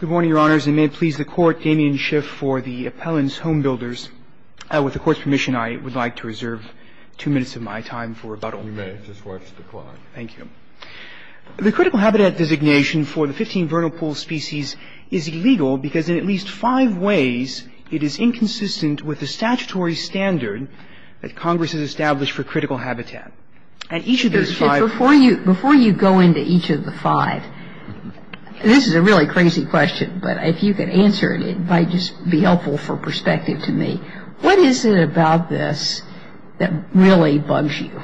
Good morning, Your Honors, and may it please the Court, Damien Schiff for the Appellant's Homebuilders. With the Court's permission, I would like to reserve two minutes of my time for rebuttal. You may. Just watch the clock. Thank you. The critical habitat designation for the 15 vernal pool species is illegal because in at least five ways it is inconsistent with the statutory standard that Congress has established for critical habitat. And each of those five Before you go into each of the five, this is a really crazy question, but if you could answer it, it might just be helpful for perspective to me. What is it about this that really bugs you?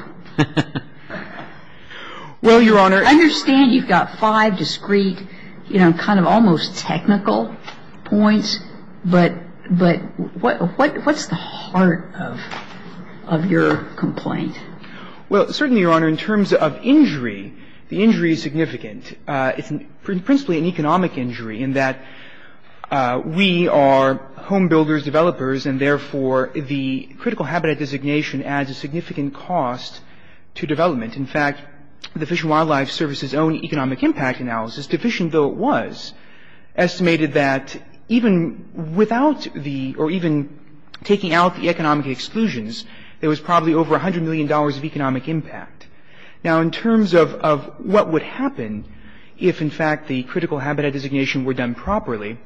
Well, Your Honor I understand you've got five discrete, you know, kind of almost technical points, but what's the heart of your complaint? Well, certainly, Your Honor, in terms of injury, the injury is significant. It's principally an economic injury in that we are homebuilders, developers, and therefore the critical habitat designation adds a significant cost to development. In fact, the Fish and Wildlife Service's own economic impact analysis, deficient though it was, estimated that even without the or even taking out the economic exclusions, there was probably over $100 million of economic impact. Now, in terms of what would happen if, in fact, the critical habitat designation were done properly,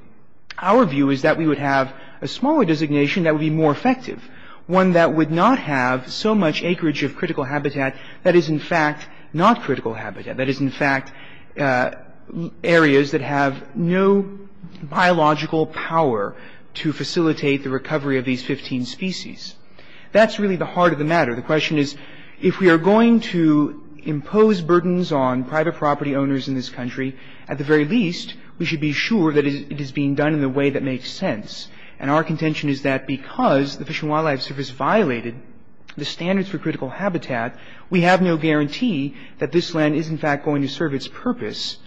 our view is that we would have a smaller designation that would be more effective, one that would not have so much acreage of critical habitat that is, in fact, not critical habitat, that is, in fact, areas that have no biological power to facilitate the recovery of these 15 species. That's really the heart of the matter. The question is, if we are going to impose burdens on private property owners in this country, at the very least, we should be sure that it is being done in a way that makes sense. And our contention is that because the Fish and Wildlife Service violated the standards for critical habitat, we have no guarantee that this land is, in fact, going to serve its purpose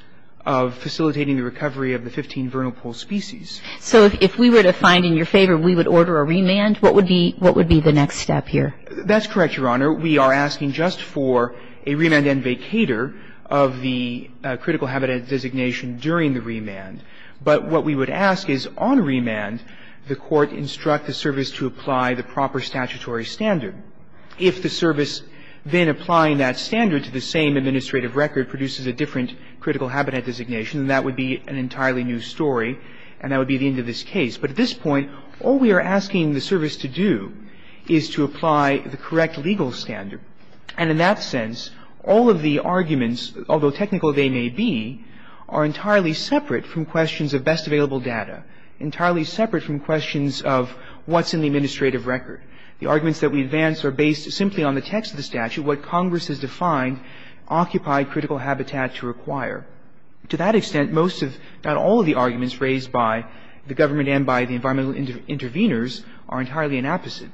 of facilitating the recovery of the 15 vernal pool species. So if we were to find in your favor we would order a remand, what would be the next step here? That's correct, Your Honor. We are asking just for a remand and vacator of the critical habitat designation during the remand. But what we would ask is, on remand, the Court instruct the service to apply the proper statutory standard. If the service then applying that standard to the same administrative record produces a different critical And that would be the end of this case. But at this point, all we are asking the service to do is to apply the correct legal standard. And in that sense, all of the arguments, although technical they may be, are entirely separate from questions of best available data, entirely separate from questions of what's in the administrative record. The arguments that we advance are based simply on the text of the statute, what Congress has defined occupied critical habitat to require. To that extent, most of, not all of the arguments raised by the government and by the environmental intervenors are entirely an opposite.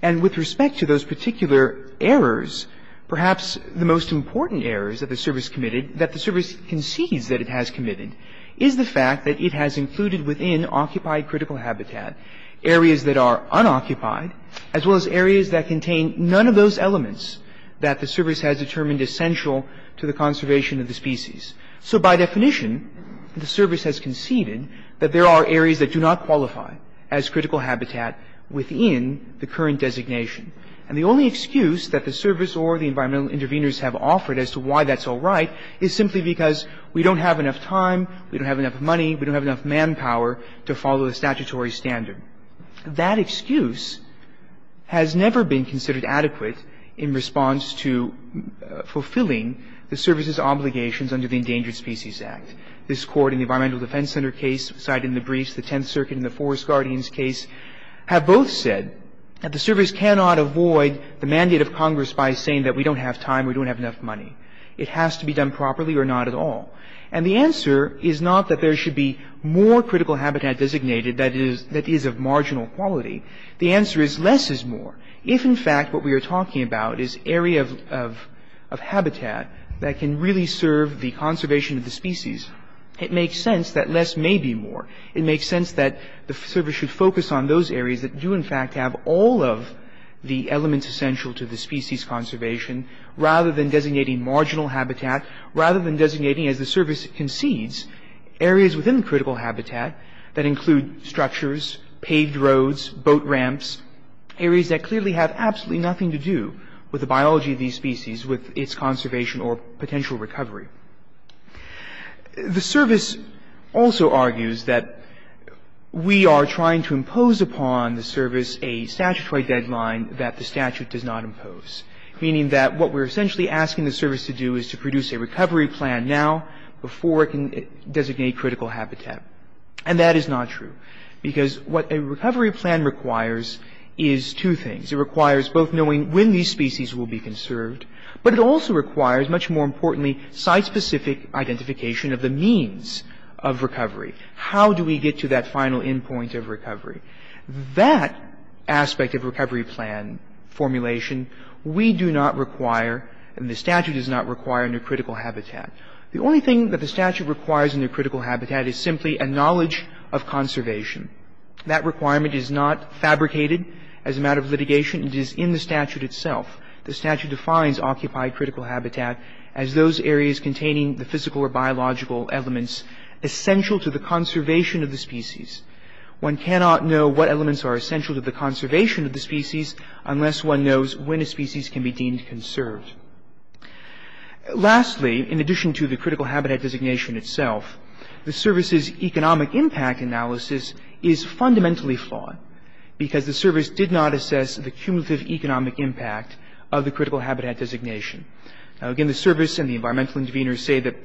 And with respect to those particular errors, perhaps the most important errors that the service committed, that the service concedes that it has committed, is the fact that it has included within occupied critical habitat areas that are unoccupied, as well as areas that contain none of those elements that the service has determined essential to the conservation of the species. So by definition, the service has conceded that there are areas that do not qualify as critical habitat within the current designation. And the only excuse that the service or the environmental intervenors have offered as to why that's all right is simply because we don't have enough time, we don't have enough money, we don't have enough manpower to follow the statutory standard. That excuse has never been considered adequate in response to fulfilling the service's obligations under the Endangered Species Act. This Court in the Environmental Defense Center case cited in the briefs, the Tenth Circuit and the Forest Guardians case have both said that the service cannot avoid the mandate of Congress by saying that we don't have time, we don't have enough money. It has to be done properly or not at all. And the answer is not that there should be more critical habitat designated that is of marginal quality. The answer is less is more. If, in fact, what we are talking about is area of habitat that can really serve the conservation of the species, it makes sense that less may be more. It makes sense that the service should focus on those areas that do, in fact, have all of the elements essential to the species conservation rather than designating marginal habitat, rather than designating, as the service concedes, areas within critical habitat that include structures, paved roads, boat ramps, areas that clearly have absolutely nothing to do with the biology of these species, with its conservation or potential recovery. The service also argues that we are trying to impose upon the service a statutory deadline that the statute does not impose, meaning that what we're essentially asking the service to do is to produce a recovery plan now before it can designate critical habitat. And that is not true, because what a recovery plan requires is two things. It requires both knowing when these species will be conserved, but it also requires, much more importantly, site-specific identification of the means of recovery. How do we get to that final endpoint of recovery? That aspect of recovery plan formulation we do not require and the statute does not require under critical habitat. The only thing that the statute requires under critical habitat is simply a knowledge of conservation. That requirement is not fabricated as a matter of litigation. It is in the statute itself. The statute defines occupied critical habitat as those areas containing the physical or biological elements essential to the conservation of the species. One cannot know what elements are essential to the conservation of the species unless one knows when a species can be deemed conserved. Lastly, in addition to the critical habitat designation itself, the service's economic impact analysis is fundamentally flawed, because the service did not assess the cumulative economic impact of the critical habitat designation. Now, again, the service and the environmental interveners say that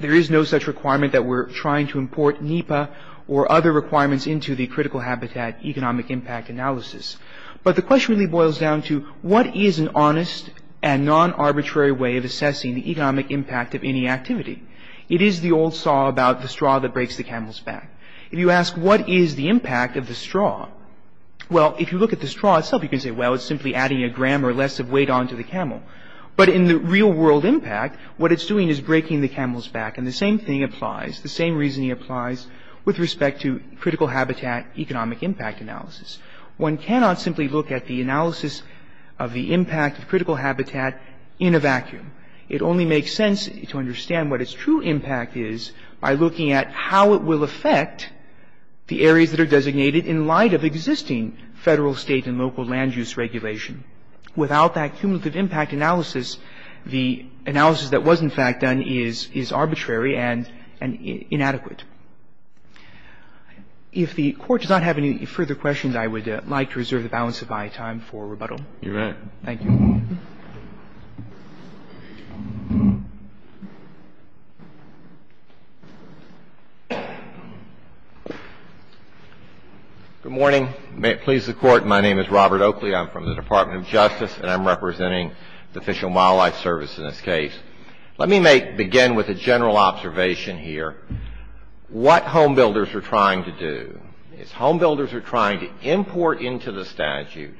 there is no such requirement that we're trying to import NEPA or other requirements into the critical habitat economic impact analysis. But the question really boils down to what is an honest and non-arbitrary way of assessing the economic impact of any activity? It is the old saw about the straw that breaks the camel's back. If you ask what is the impact of the straw, well, if you look at the straw itself, you can say, well, it's simply adding a gram or less of weight onto the camel. But in the real-world impact, what it's doing is breaking the camel's back. And the same thing applies, the same reasoning applies with respect to critical habitat economic impact analysis. One cannot simply look at the analysis of the impact of critical habitat in a vacuum. It only makes sense to understand what its true impact is by looking at how it will affect the areas that are designated in light of existing federal, state, and local land use regulation. Without that cumulative impact analysis, the analysis that was in fact done is arbitrary and inadequate. If the Court does not have any further questions, I would like to reserve the balance of my time for rebuttal. Thank you. Robert Oakley, Jr. Good morning. May it please the Court, my name is Robert Oakley. I'm from the Department of Justice and I'm representing the Fish and Wildlife Service in this case. Let me begin with a general observation here. What homebuilders are trying to do is homebuilders are trying to import into the statute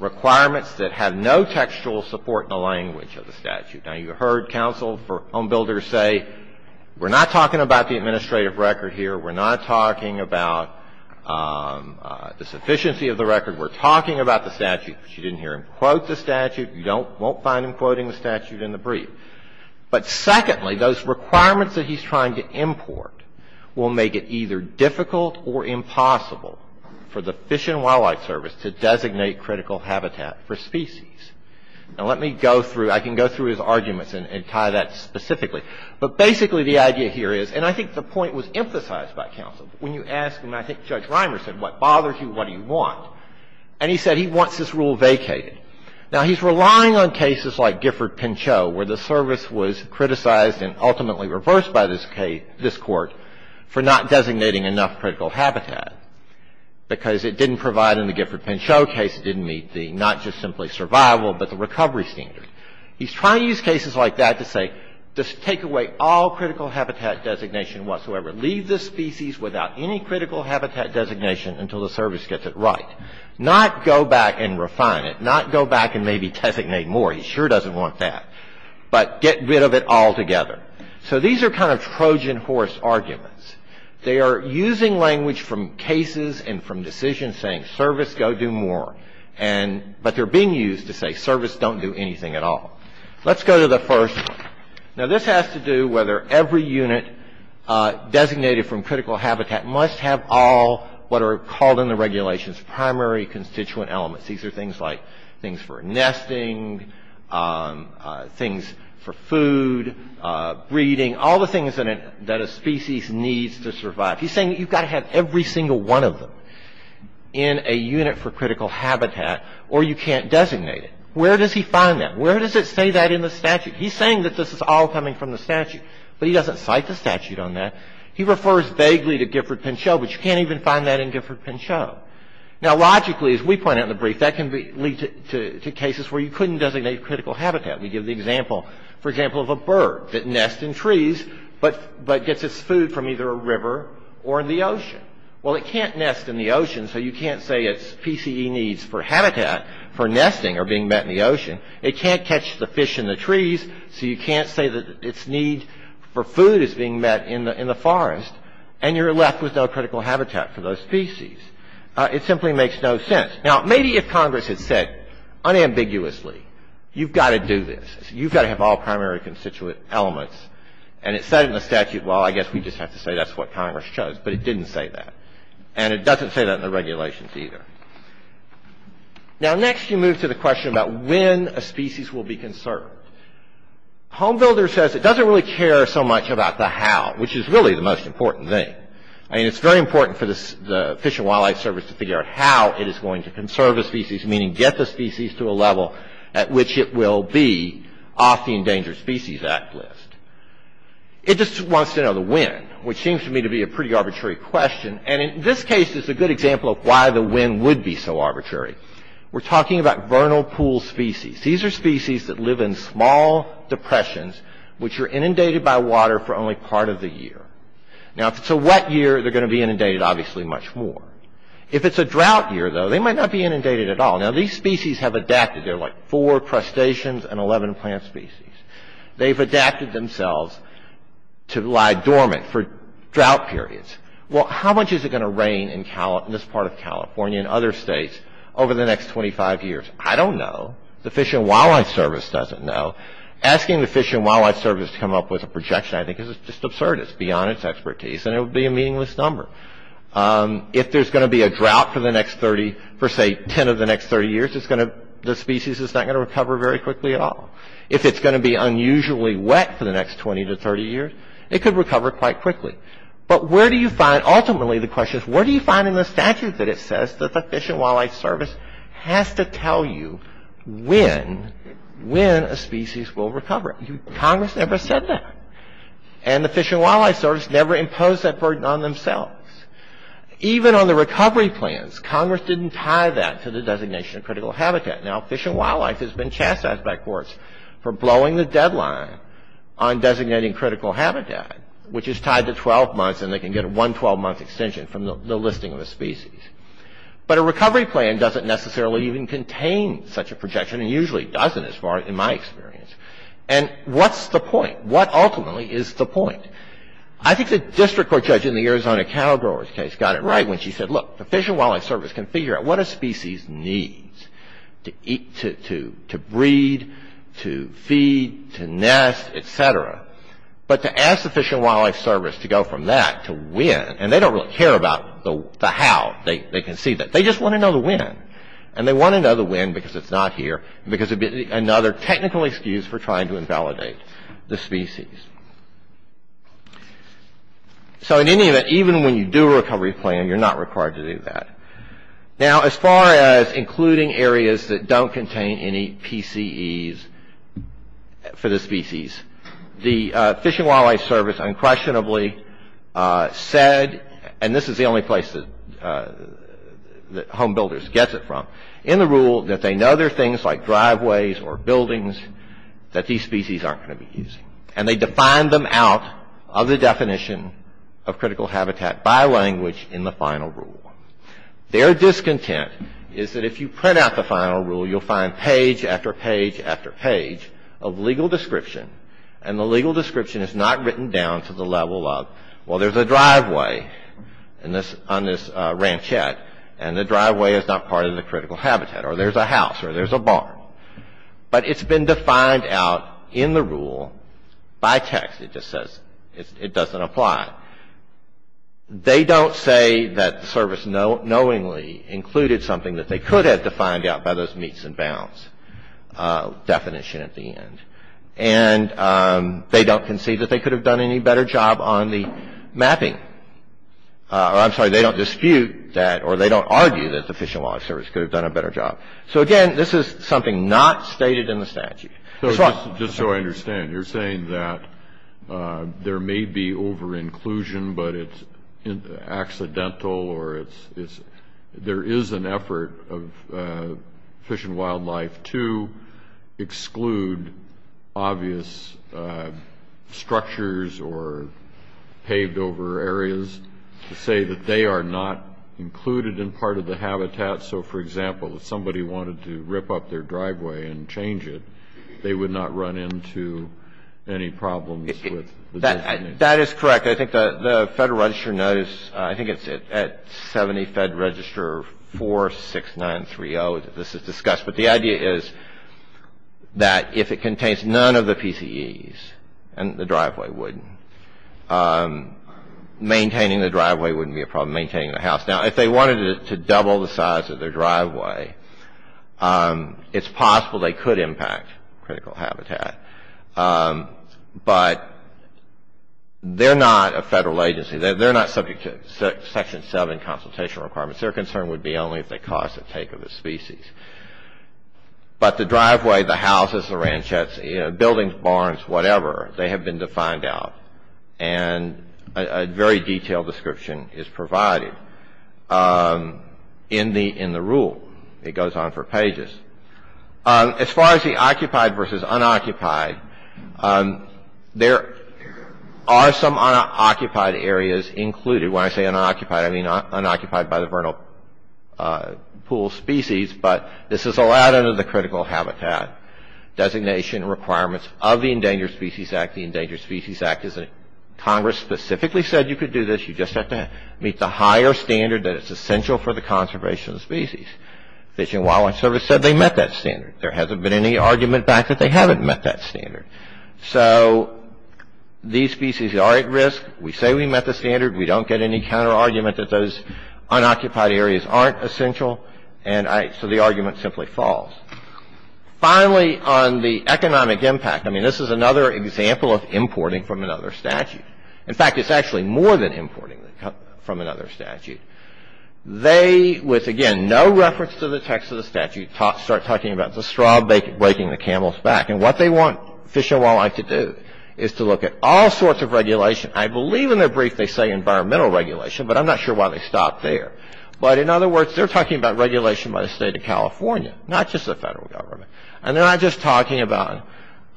requirements that have no textual support in the language of the statute. Now you heard counsel for homebuilders say, we're not talking about the administrative record here, we're not talking about the sufficiency of the record, we're talking about the statute. But you didn't hear him quote the statute, you won't find him quoting the statute in the brief. But secondly, those requirements that he's trying to import will make it either difficult or impossible for the Fish and Wildlife Service to designate critical habitat for species. Now let me go through, I can go through his arguments and tie that specifically. But basically the idea here is, and I think the point was emphasized by counsel, when you ask, and I think Judge Reimer said, what bothers you, what do you want? And he said he wants this rule vacated. Now he's relying on cases like Gifford-Pinchot where the service was criticized and ultimately reversed by this Court for not designating enough critical habitat because it didn't provide in the Gifford-Pinchot case, it didn't meet the not just simply survival but the recovery standard. He's trying to use cases like that to say just take away all critical habitat designation whatsoever. Leave the species without any critical habitat designation until the service gets it right. Not go back and refine it. Not go back and maybe designate more. He sure doesn't want that. But get rid of it altogether. So these are kind of Trojan horse arguments. They are using language from cases and from decisions saying service, go do more. But they're being used to say service don't do anything at all. Let's go to the first. Now this has to do whether every unit designated from critical habitat must have all what are called in the regulations primary constituent elements. These are things like things for nesting, things for food, breeding, all the things that a species needs to survive. He's saying you've got to have every single one of them in a unit for critical habitat or you can't designate it. Where does he find that? Where does it say that in the statute? He's saying that this is all coming from the statute. But he doesn't cite the statute on that. He refers vaguely to Gifford-Pinchot but you can't even find that in Gifford-Pinchot. Now, logically, as we pointed out in the brief, that can lead to cases where you couldn't designate critical habitat. We give the example, for example, of a bird that nests in trees but gets its food from either a river or in the ocean. Well, it can't nest in the ocean so you can't say its PCE needs for habitat for nesting are being met in the ocean. It can't catch the fish in the trees so you can't say that its need for food is being met in the forest and you're left with no critical habitat for those species. It simply makes no sense. Now, maybe if Congress had said, unambiguously, you've got to do this. You've got to have all primary constituent elements. And it said in the statute, well, I guess we just have to say that's what Congress chose. But it didn't say that. And it doesn't say that in the regulations either. Now, next you move to the question about when a species will be conserved. HomeBuilder says it doesn't really care so much about the how, which is really the most important thing. I mean, it's very important for the Fish and Wildlife Service to figure out how it is going to conserve a species, meaning get the species to a level at which it will be off the Endangered Species Act list. It just wants to know the when, which seems to me to be a pretty arbitrary question. And in this case is a good example of why the when would be so arbitrary. We're talking about vernal pool species. These are species that live in small depressions, which are inundated by water for only part of the year. Now, if it's a wet year, they're going to be inundated obviously much more. If it's a drought year, though, they might not be inundated at all. Now, these species have adapted. They're like four crustaceans and 11 plant species. They've adapted themselves to lie dormant for drought periods. Well, how much is it going to rain in this part of California and other states over the next 25 years? I don't know. The Fish and Wildlife Service doesn't know. Asking the Fish and Wildlife Service to come up with a projection, I think, is just absurd. It's beyond its expertise, and it would be a meaningless number. If there's going to be a drought for the next 30, for say 10 of the next 30 years, the species is not going to recover very quickly at all. If it's going to be unusually wet for the next 20 to 30 years, it could recover quite quickly. But where do you find, ultimately the question is, where do you find in the statute that it says that the Fish and Wildlife Service has to tell you when a species will recover? Congress never said that. And the Fish and Wildlife Service never imposed that burden on themselves. Even on the recovery plans, Congress didn't tie that to the designation of critical habitat. Now, Fish and Wildlife has been chastised by courts for blowing the deadline on designating critical habitat, which is tied to 12 months, and they can get a one 12-month extension from the listing of a species. But a recovery plan doesn't necessarily even contain such a projection, and usually doesn't as far as in my experience. And what's the point? What ultimately is the point? I think the district court judge in the Arizona cattle growers case got it right when she said, look, the Fish and Wildlife Service can figure out what a species needs to eat, to breed, to feed, to nest, etc. But to ask the Fish and Wildlife Service to go from that to when, and they don't really care about the how. They just want to know the when. And they want to know the when because it's not here, because it would be another technical excuse for trying to invalidate the species. So in any event, even when you do a recovery plan, you're not required to do that. Now, as far as including areas that don't contain any PCEs for the species, the Fish and Wildlife Service unquestionably said, and this is the only place that Home Builders gets it from, in the rule that they know there are things like driveways or buildings that these species aren't going to be using. And they defined them out of the definition of critical habitat by language in the final rule. Their discontent is that if you print out the final rule, you'll find page after page after page of legal description. And the legal description is not written down to the level of, well, there's a driveway on this ranchette, and the driveway is not part of the critical habitat. Or there's a house, or there's a barn. But it's been defined out in the rule by text. It just says it doesn't apply. They don't say that the service knowingly included something that they could have defined out by those meets and bounds definition at the end. And they don't concede that they could have done any better job on the mapping. I'm sorry, they don't dispute that, or they don't argue that the Fish and Wildlife Service could have done a better job. So, again, this is something not stated in the statute. Just so I understand, you're saying that there may be over-inclusion, but it's accidental, or there is an effort of Fish and Wildlife to exclude obvious structures or paved-over areas to say that they are not included in part of the habitat. So, for example, if somebody wanted to rip up their driveway and change it, they would not run into any problems with the definition. That is correct. I think the Federal Register knows. I think it's at 70 Fed Register 46930 that this is discussed. But the idea is that if it contains none of the PCEs, and the driveway wouldn't, maintaining the driveway wouldn't be a problem, maintaining the house. Now, if they wanted to double the size of their driveway, it's possible they could impact critical habitat. But they're not a federal agency. They're not subject to Section 7 consultation requirements. Their concern would be only if they caused the take of the species. But the driveway, the houses, the ranchettes, buildings, barns, whatever, they have been defined out, and a very detailed description is provided in the rule. It goes on for pages. As far as the occupied versus unoccupied, there are some unoccupied areas included. When I say unoccupied, I mean unoccupied by the vernal pool species. But this is allowed under the critical habitat designation requirements of the Endangered Species Act. The Endangered Species Act, Congress specifically said you could do this. You just have to meet the higher standard that is essential for the conservation of species. Fish and Wildlife Service said they met that standard. There hasn't been any argument back that they haven't met that standard. So these species are at risk. We say we met the standard. We don't get any counterargument that those unoccupied areas aren't essential. And so the argument simply falls. Finally, on the economic impact, I mean, this is another example of importing from another statute. In fact, it's actually more than importing from another statute. They, with, again, no reference to the text of the statute, start talking about the straw breaking the camel's back. And what they want Fish and Wildlife to do is to look at all sorts of regulation. I believe in their brief they say environmental regulation, but I'm not sure why they stopped there. But in other words, they're talking about regulation by the state of California, not just the federal government. And they're not just talking about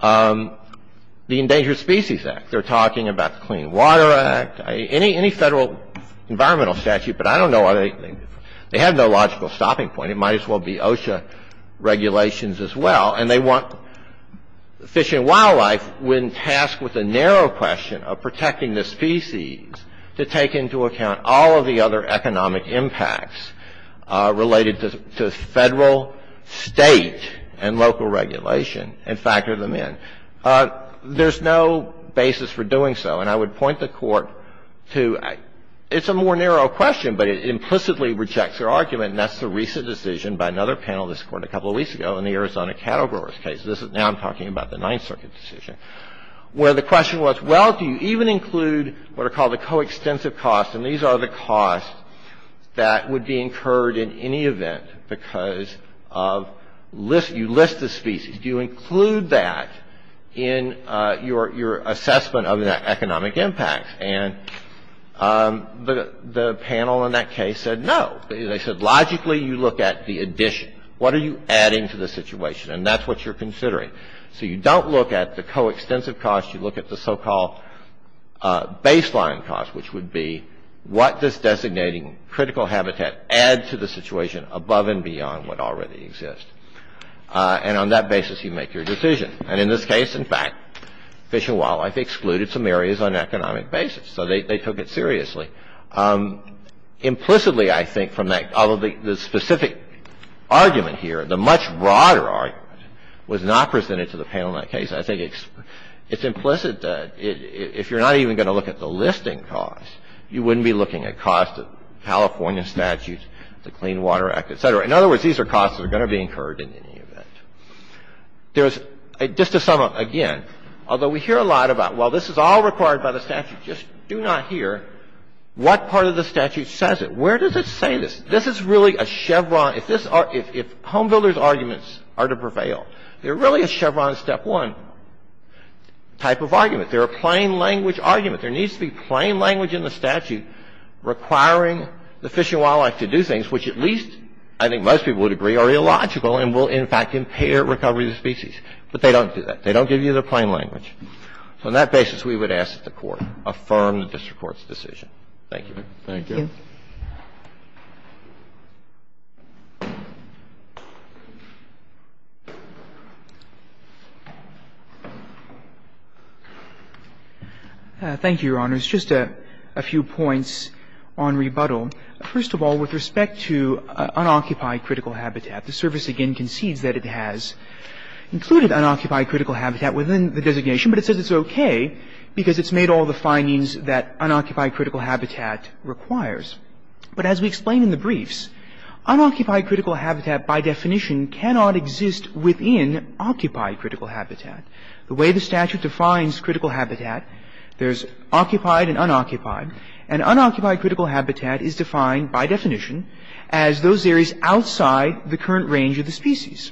the Endangered Species Act. They're talking about the Clean Water Act, any federal environmental statute. But I don't know why they have no logical stopping point. It might as well be OSHA regulations as well. And they want Fish and Wildlife when tasked with the narrow question of protecting the species to take into account all of the other economic impacts related to federal, state, and local regulation and factor them in. There's no basis for doing so. And I would point the Court to it's a more narrow question, but it implicitly rejects their argument. And that's the recent decision by another panel of this Court a couple of weeks ago in the Arizona cattle growers case. This is now I'm talking about the Ninth Circuit decision, where the question was, well, do you even include what are called the coextensive costs? And these are the costs that would be incurred in any event because of you list the species. Do you include that in your assessment of the economic impacts? And the panel in that case said no. They said logically you look at the addition. What are you adding to the situation? And that's what you're considering. So you don't look at the coextensive cost. You look at the so-called baseline cost, which would be what does designating critical habitat add to the situation above and beyond what already exists. And on that basis you make your decision. And in this case, in fact, Fish and Wildlife excluded some areas on an economic basis. So they took it seriously. Implicitly I think from that, although the specific argument here, the much broader argument was not presented to the panel in that case. I think it's implicit that if you're not even going to look at the listing cost, you wouldn't be looking at cost of California statutes, the Clean Water Act, et cetera. In other words, these are costs that are going to be incurred in any event. There's, just to sum up again, although we hear a lot about, well, this is all required by the statute, just do not hear what part of the statute says it. Where does it say this? This is really a Chevron. If this, if Homebuilder's arguments are to prevail, they're really a Chevron step one type of argument. They're a plain language argument. There needs to be plain language in the statute requiring the Fish and Wildlife to do things, which at least I think most people would agree are illogical and will in fact impair recovery of the species. But they don't do that. They don't give you the plain language. So on that basis, we would ask that the Court affirm the district court's decision. Thank you. Thank you. Thank you, Your Honors. Just a few points on rebuttal. First of all, with respect to unoccupied critical habitat, the service again concedes that it has included unoccupied critical habitat within the designation, but it says it's okay because it's made all the findings that unoccupied critical habitat requires. But as we explain in the briefs, unoccupied critical habitat by definition cannot exist within occupied critical habitat. The way the statute defines critical habitat, there's occupied and unoccupied, and unoccupied critical habitat is defined by definition as those areas outside the current range of the species.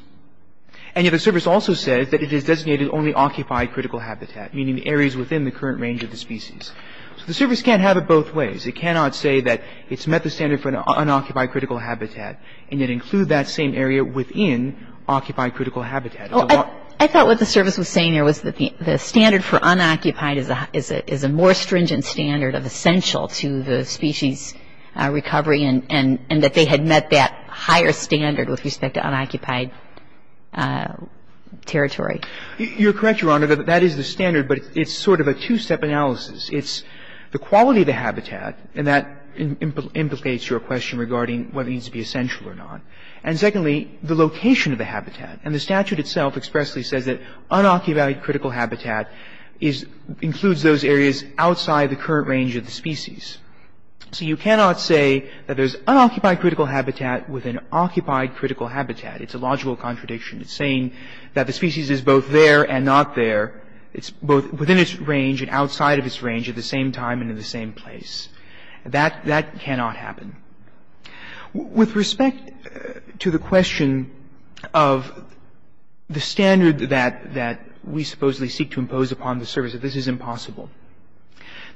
And yet the service also says that it is designated only occupied critical habitat, meaning the areas within the current range of the species. So the service can't have it both ways. It cannot say that it's met the standard for an unoccupied critical habitat and yet include that same area within occupied critical habitat. Well, I thought what the service was saying here was that the standard for unoccupied is a more stringent standard of essential to the species recovery and that they had met that higher standard with respect to unoccupied territory. You're correct, Your Honor, that that is the standard, but it's sort of a two-step analysis. It's the quality of the habitat, and that implicates your question regarding whether it needs to be essential or not. And secondly, the location of the habitat. And the statute itself expressly says that unoccupied critical habitat includes those areas outside the current range of the species. So you cannot say that there's unoccupied critical habitat within occupied critical habitat. It's a logical contradiction. It's saying that the species is both there and not there. It's both within its range and outside of its range at the same time and in the same place. That cannot happen. With respect to the question of the standard that we supposedly seek to impose upon the service, that this is impossible,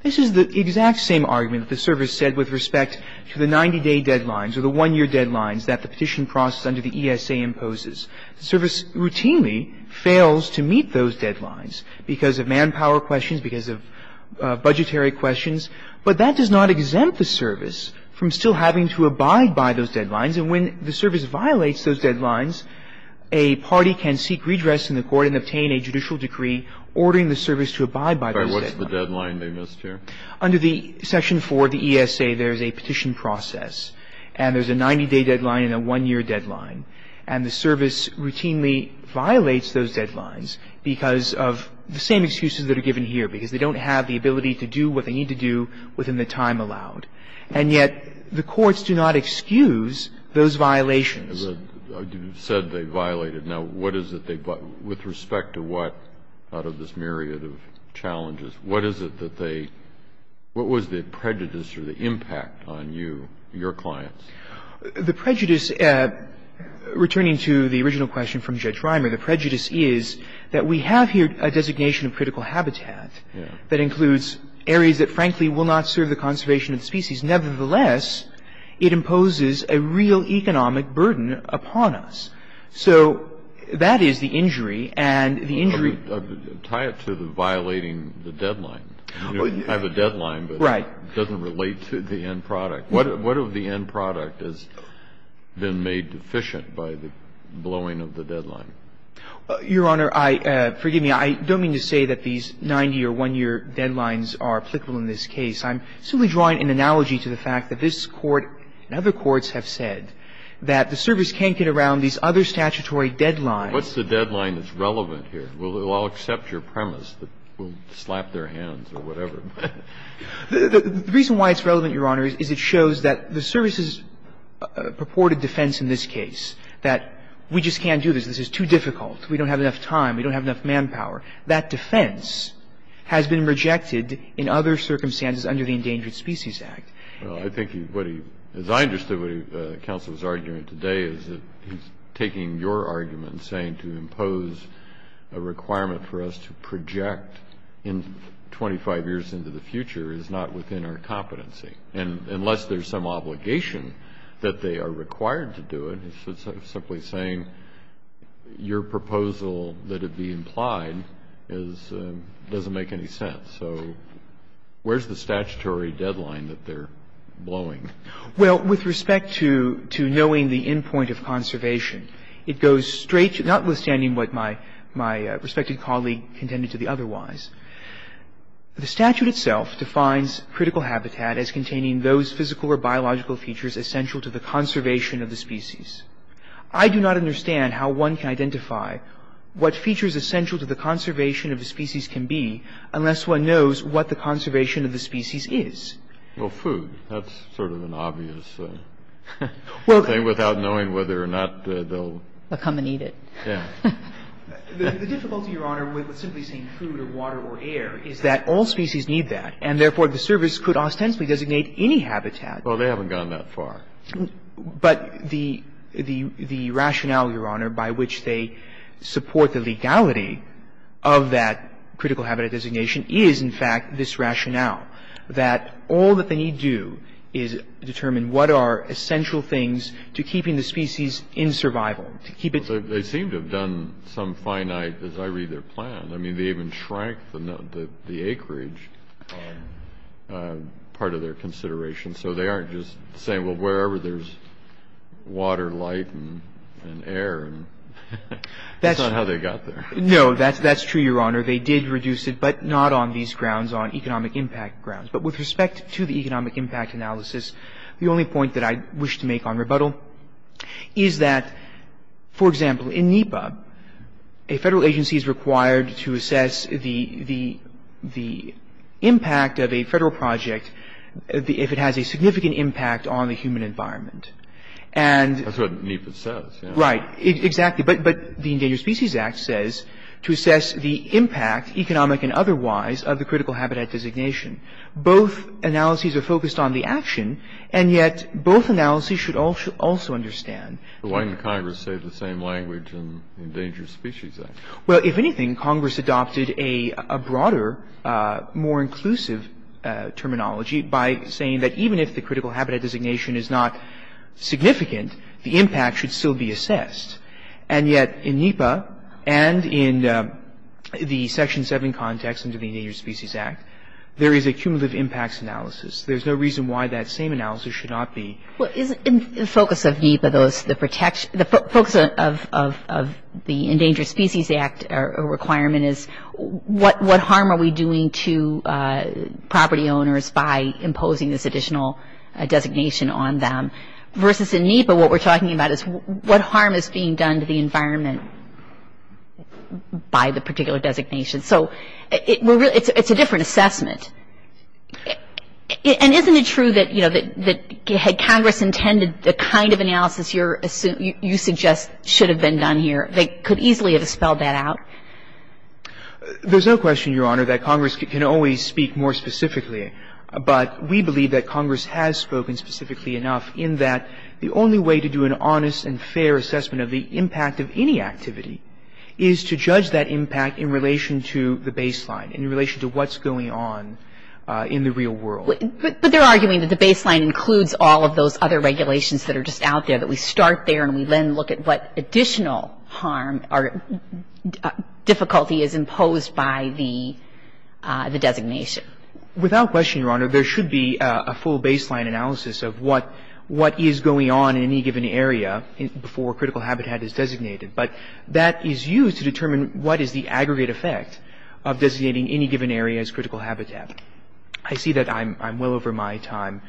this is the exact same argument that the service said with respect to the 90-day deadlines or the one-year deadlines that the petition process under the ESA imposes. The service routinely fails to meet those deadlines because of manpower questions, because of budgetary questions. But that does not exempt the service from still having to abide by those deadlines. And when the service violates those deadlines, a party can seek redress in the court and obtain a judicial decree ordering the service to abide by those deadlines. By what's the deadline they missed here? Under the section 4 of the ESA, there's a petition process. And there's a 90-day deadline and a one-year deadline. And the service routinely violates those deadlines because of the same excuses that are given here, because they don't have the ability to do what they need to do within the time allowed. And yet the courts do not excuse those violations. Kennedy. You said they violated. Now, what is it they violated? With respect to what, out of this myriad of challenges, what is it that they – what was the prejudice or the impact on you, your clients? The prejudice, returning to the original question from Judge Reimer, the prejudice is that we have here a designation of critical habitat that includes areas that, frankly, will not serve the conservation of species. Nevertheless, it imposes a real economic burden upon us. So that is the injury. And the injury – Tie it to the violating the deadline. You have a deadline, but it doesn't relate to the end product. What of the end product has been made deficient by the blowing of the deadline? Your Honor, I – forgive me. I don't mean to say that these 90 or one-year deadlines are applicable in this case. I'm simply drawing an analogy to the fact that this Court and other courts have said that the service can't get around these other statutory deadlines. What's the deadline that's relevant here? We'll all accept your premise that we'll slap their hands or whatever. The reason why it's relevant, Your Honor, is it shows that the service's purported defense in this case, that we just can't do this. This is too difficult. We don't have enough time. We don't have enough manpower. That defense has been rejected in other circumstances under the Endangered Species Act. Well, I think what he – as I understood what the counsel was arguing today is that he's taking your argument, saying to impose a requirement for us to project in 25 years into the future is not within our competency. And unless there's some obligation that they are required to do it, it's simply saying your proposal that it be implied is – doesn't make any sense. So where's the statutory deadline that they're blowing? Well, with respect to knowing the endpoint of conservation, it goes straight – notwithstanding what my respected colleague contended to the otherwise. The statute itself defines critical habitat as containing those physical or biological features essential to the conservation of the species. I do not understand how one can identify what features essential to the conservation of a species can be unless one knows what the conservation of the species is. Well, food. That's sort of an obvious thing without knowing whether or not they'll – They'll come and eat it. Yeah. The difficulty, Your Honor, with simply saying food or water or air is that all species need that. And therefore, the service could ostensibly designate any habitat. Well, they haven't gone that far. But the rationale, Your Honor, by which they support the legality of that critical habitat designation is, in fact, this rationale, that all that they need do is determine what are essential things to keeping the species in survival, to keep it – They seem to have done some finite, as I read their plan. I mean, they even shrank the acreage part of their consideration. So they aren't just saying, well, wherever there's water, light, and air, that's not how they got there. No, that's true, Your Honor. They did reduce it, but not on these grounds, on economic impact grounds. But with respect to the economic impact analysis, the only point that I wish to make on rebuttal is that, for example, in NEPA, a federal agency is required to assess the impact of a federal project if it has a significant impact on the human environment. And – That's what NEPA says. Right. Exactly. But the Endangered Species Act says to assess the impact, economic and otherwise, of the critical habitat designation. Both analyses are focused on the action, and yet both analyses should also understand – But why didn't Congress say the same language in the Endangered Species Act? Well, if anything, Congress adopted a broader, more inclusive terminology by saying that even if the critical habitat designation is not significant, the impact should still be assessed. And yet in NEPA and in the Section 7 context under the Endangered Species Act, there is a cumulative impacts analysis. There's no reason why that same analysis should not be – Well, isn't the focus of NEPA those – the protection – the focus of the Endangered Species Act requirement is what harm are we doing to property owners by imposing this additional designation on them? Versus in NEPA, what we're talking about is what harm is being done to the environment by the particular designation. So it's a different assessment. And isn't it true that, you know, that had Congress intended the kind of analysis you're – you suggest should have been done here, they could easily have spelled that out? There's no question, Your Honor, that Congress can always speak more specifically. But we believe that Congress has spoken specifically enough in that the only way to do an honest and fair assessment of the impact of any activity is to judge that impact in relation to the baseline, in relation to what's going on in the real world. But they're arguing that the baseline includes all of those other regulations that are just out there, that we start there and we then look at what additional harm or difficulty is imposed by the designation. Without question, Your Honor, there should be a full baseline analysis of what is going on in any given area before a critical habitat is designated. But that is used to determine what is the aggregate effect of designating any given area as critical habitat. I see that I'm well over my time.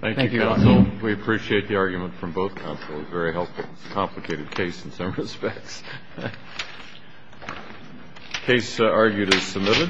Thank you, Your Honor. Thank you, counsel. We appreciate the argument from both counsels. Very helpful. It's a complicated case in some respects. Case argued as submitted.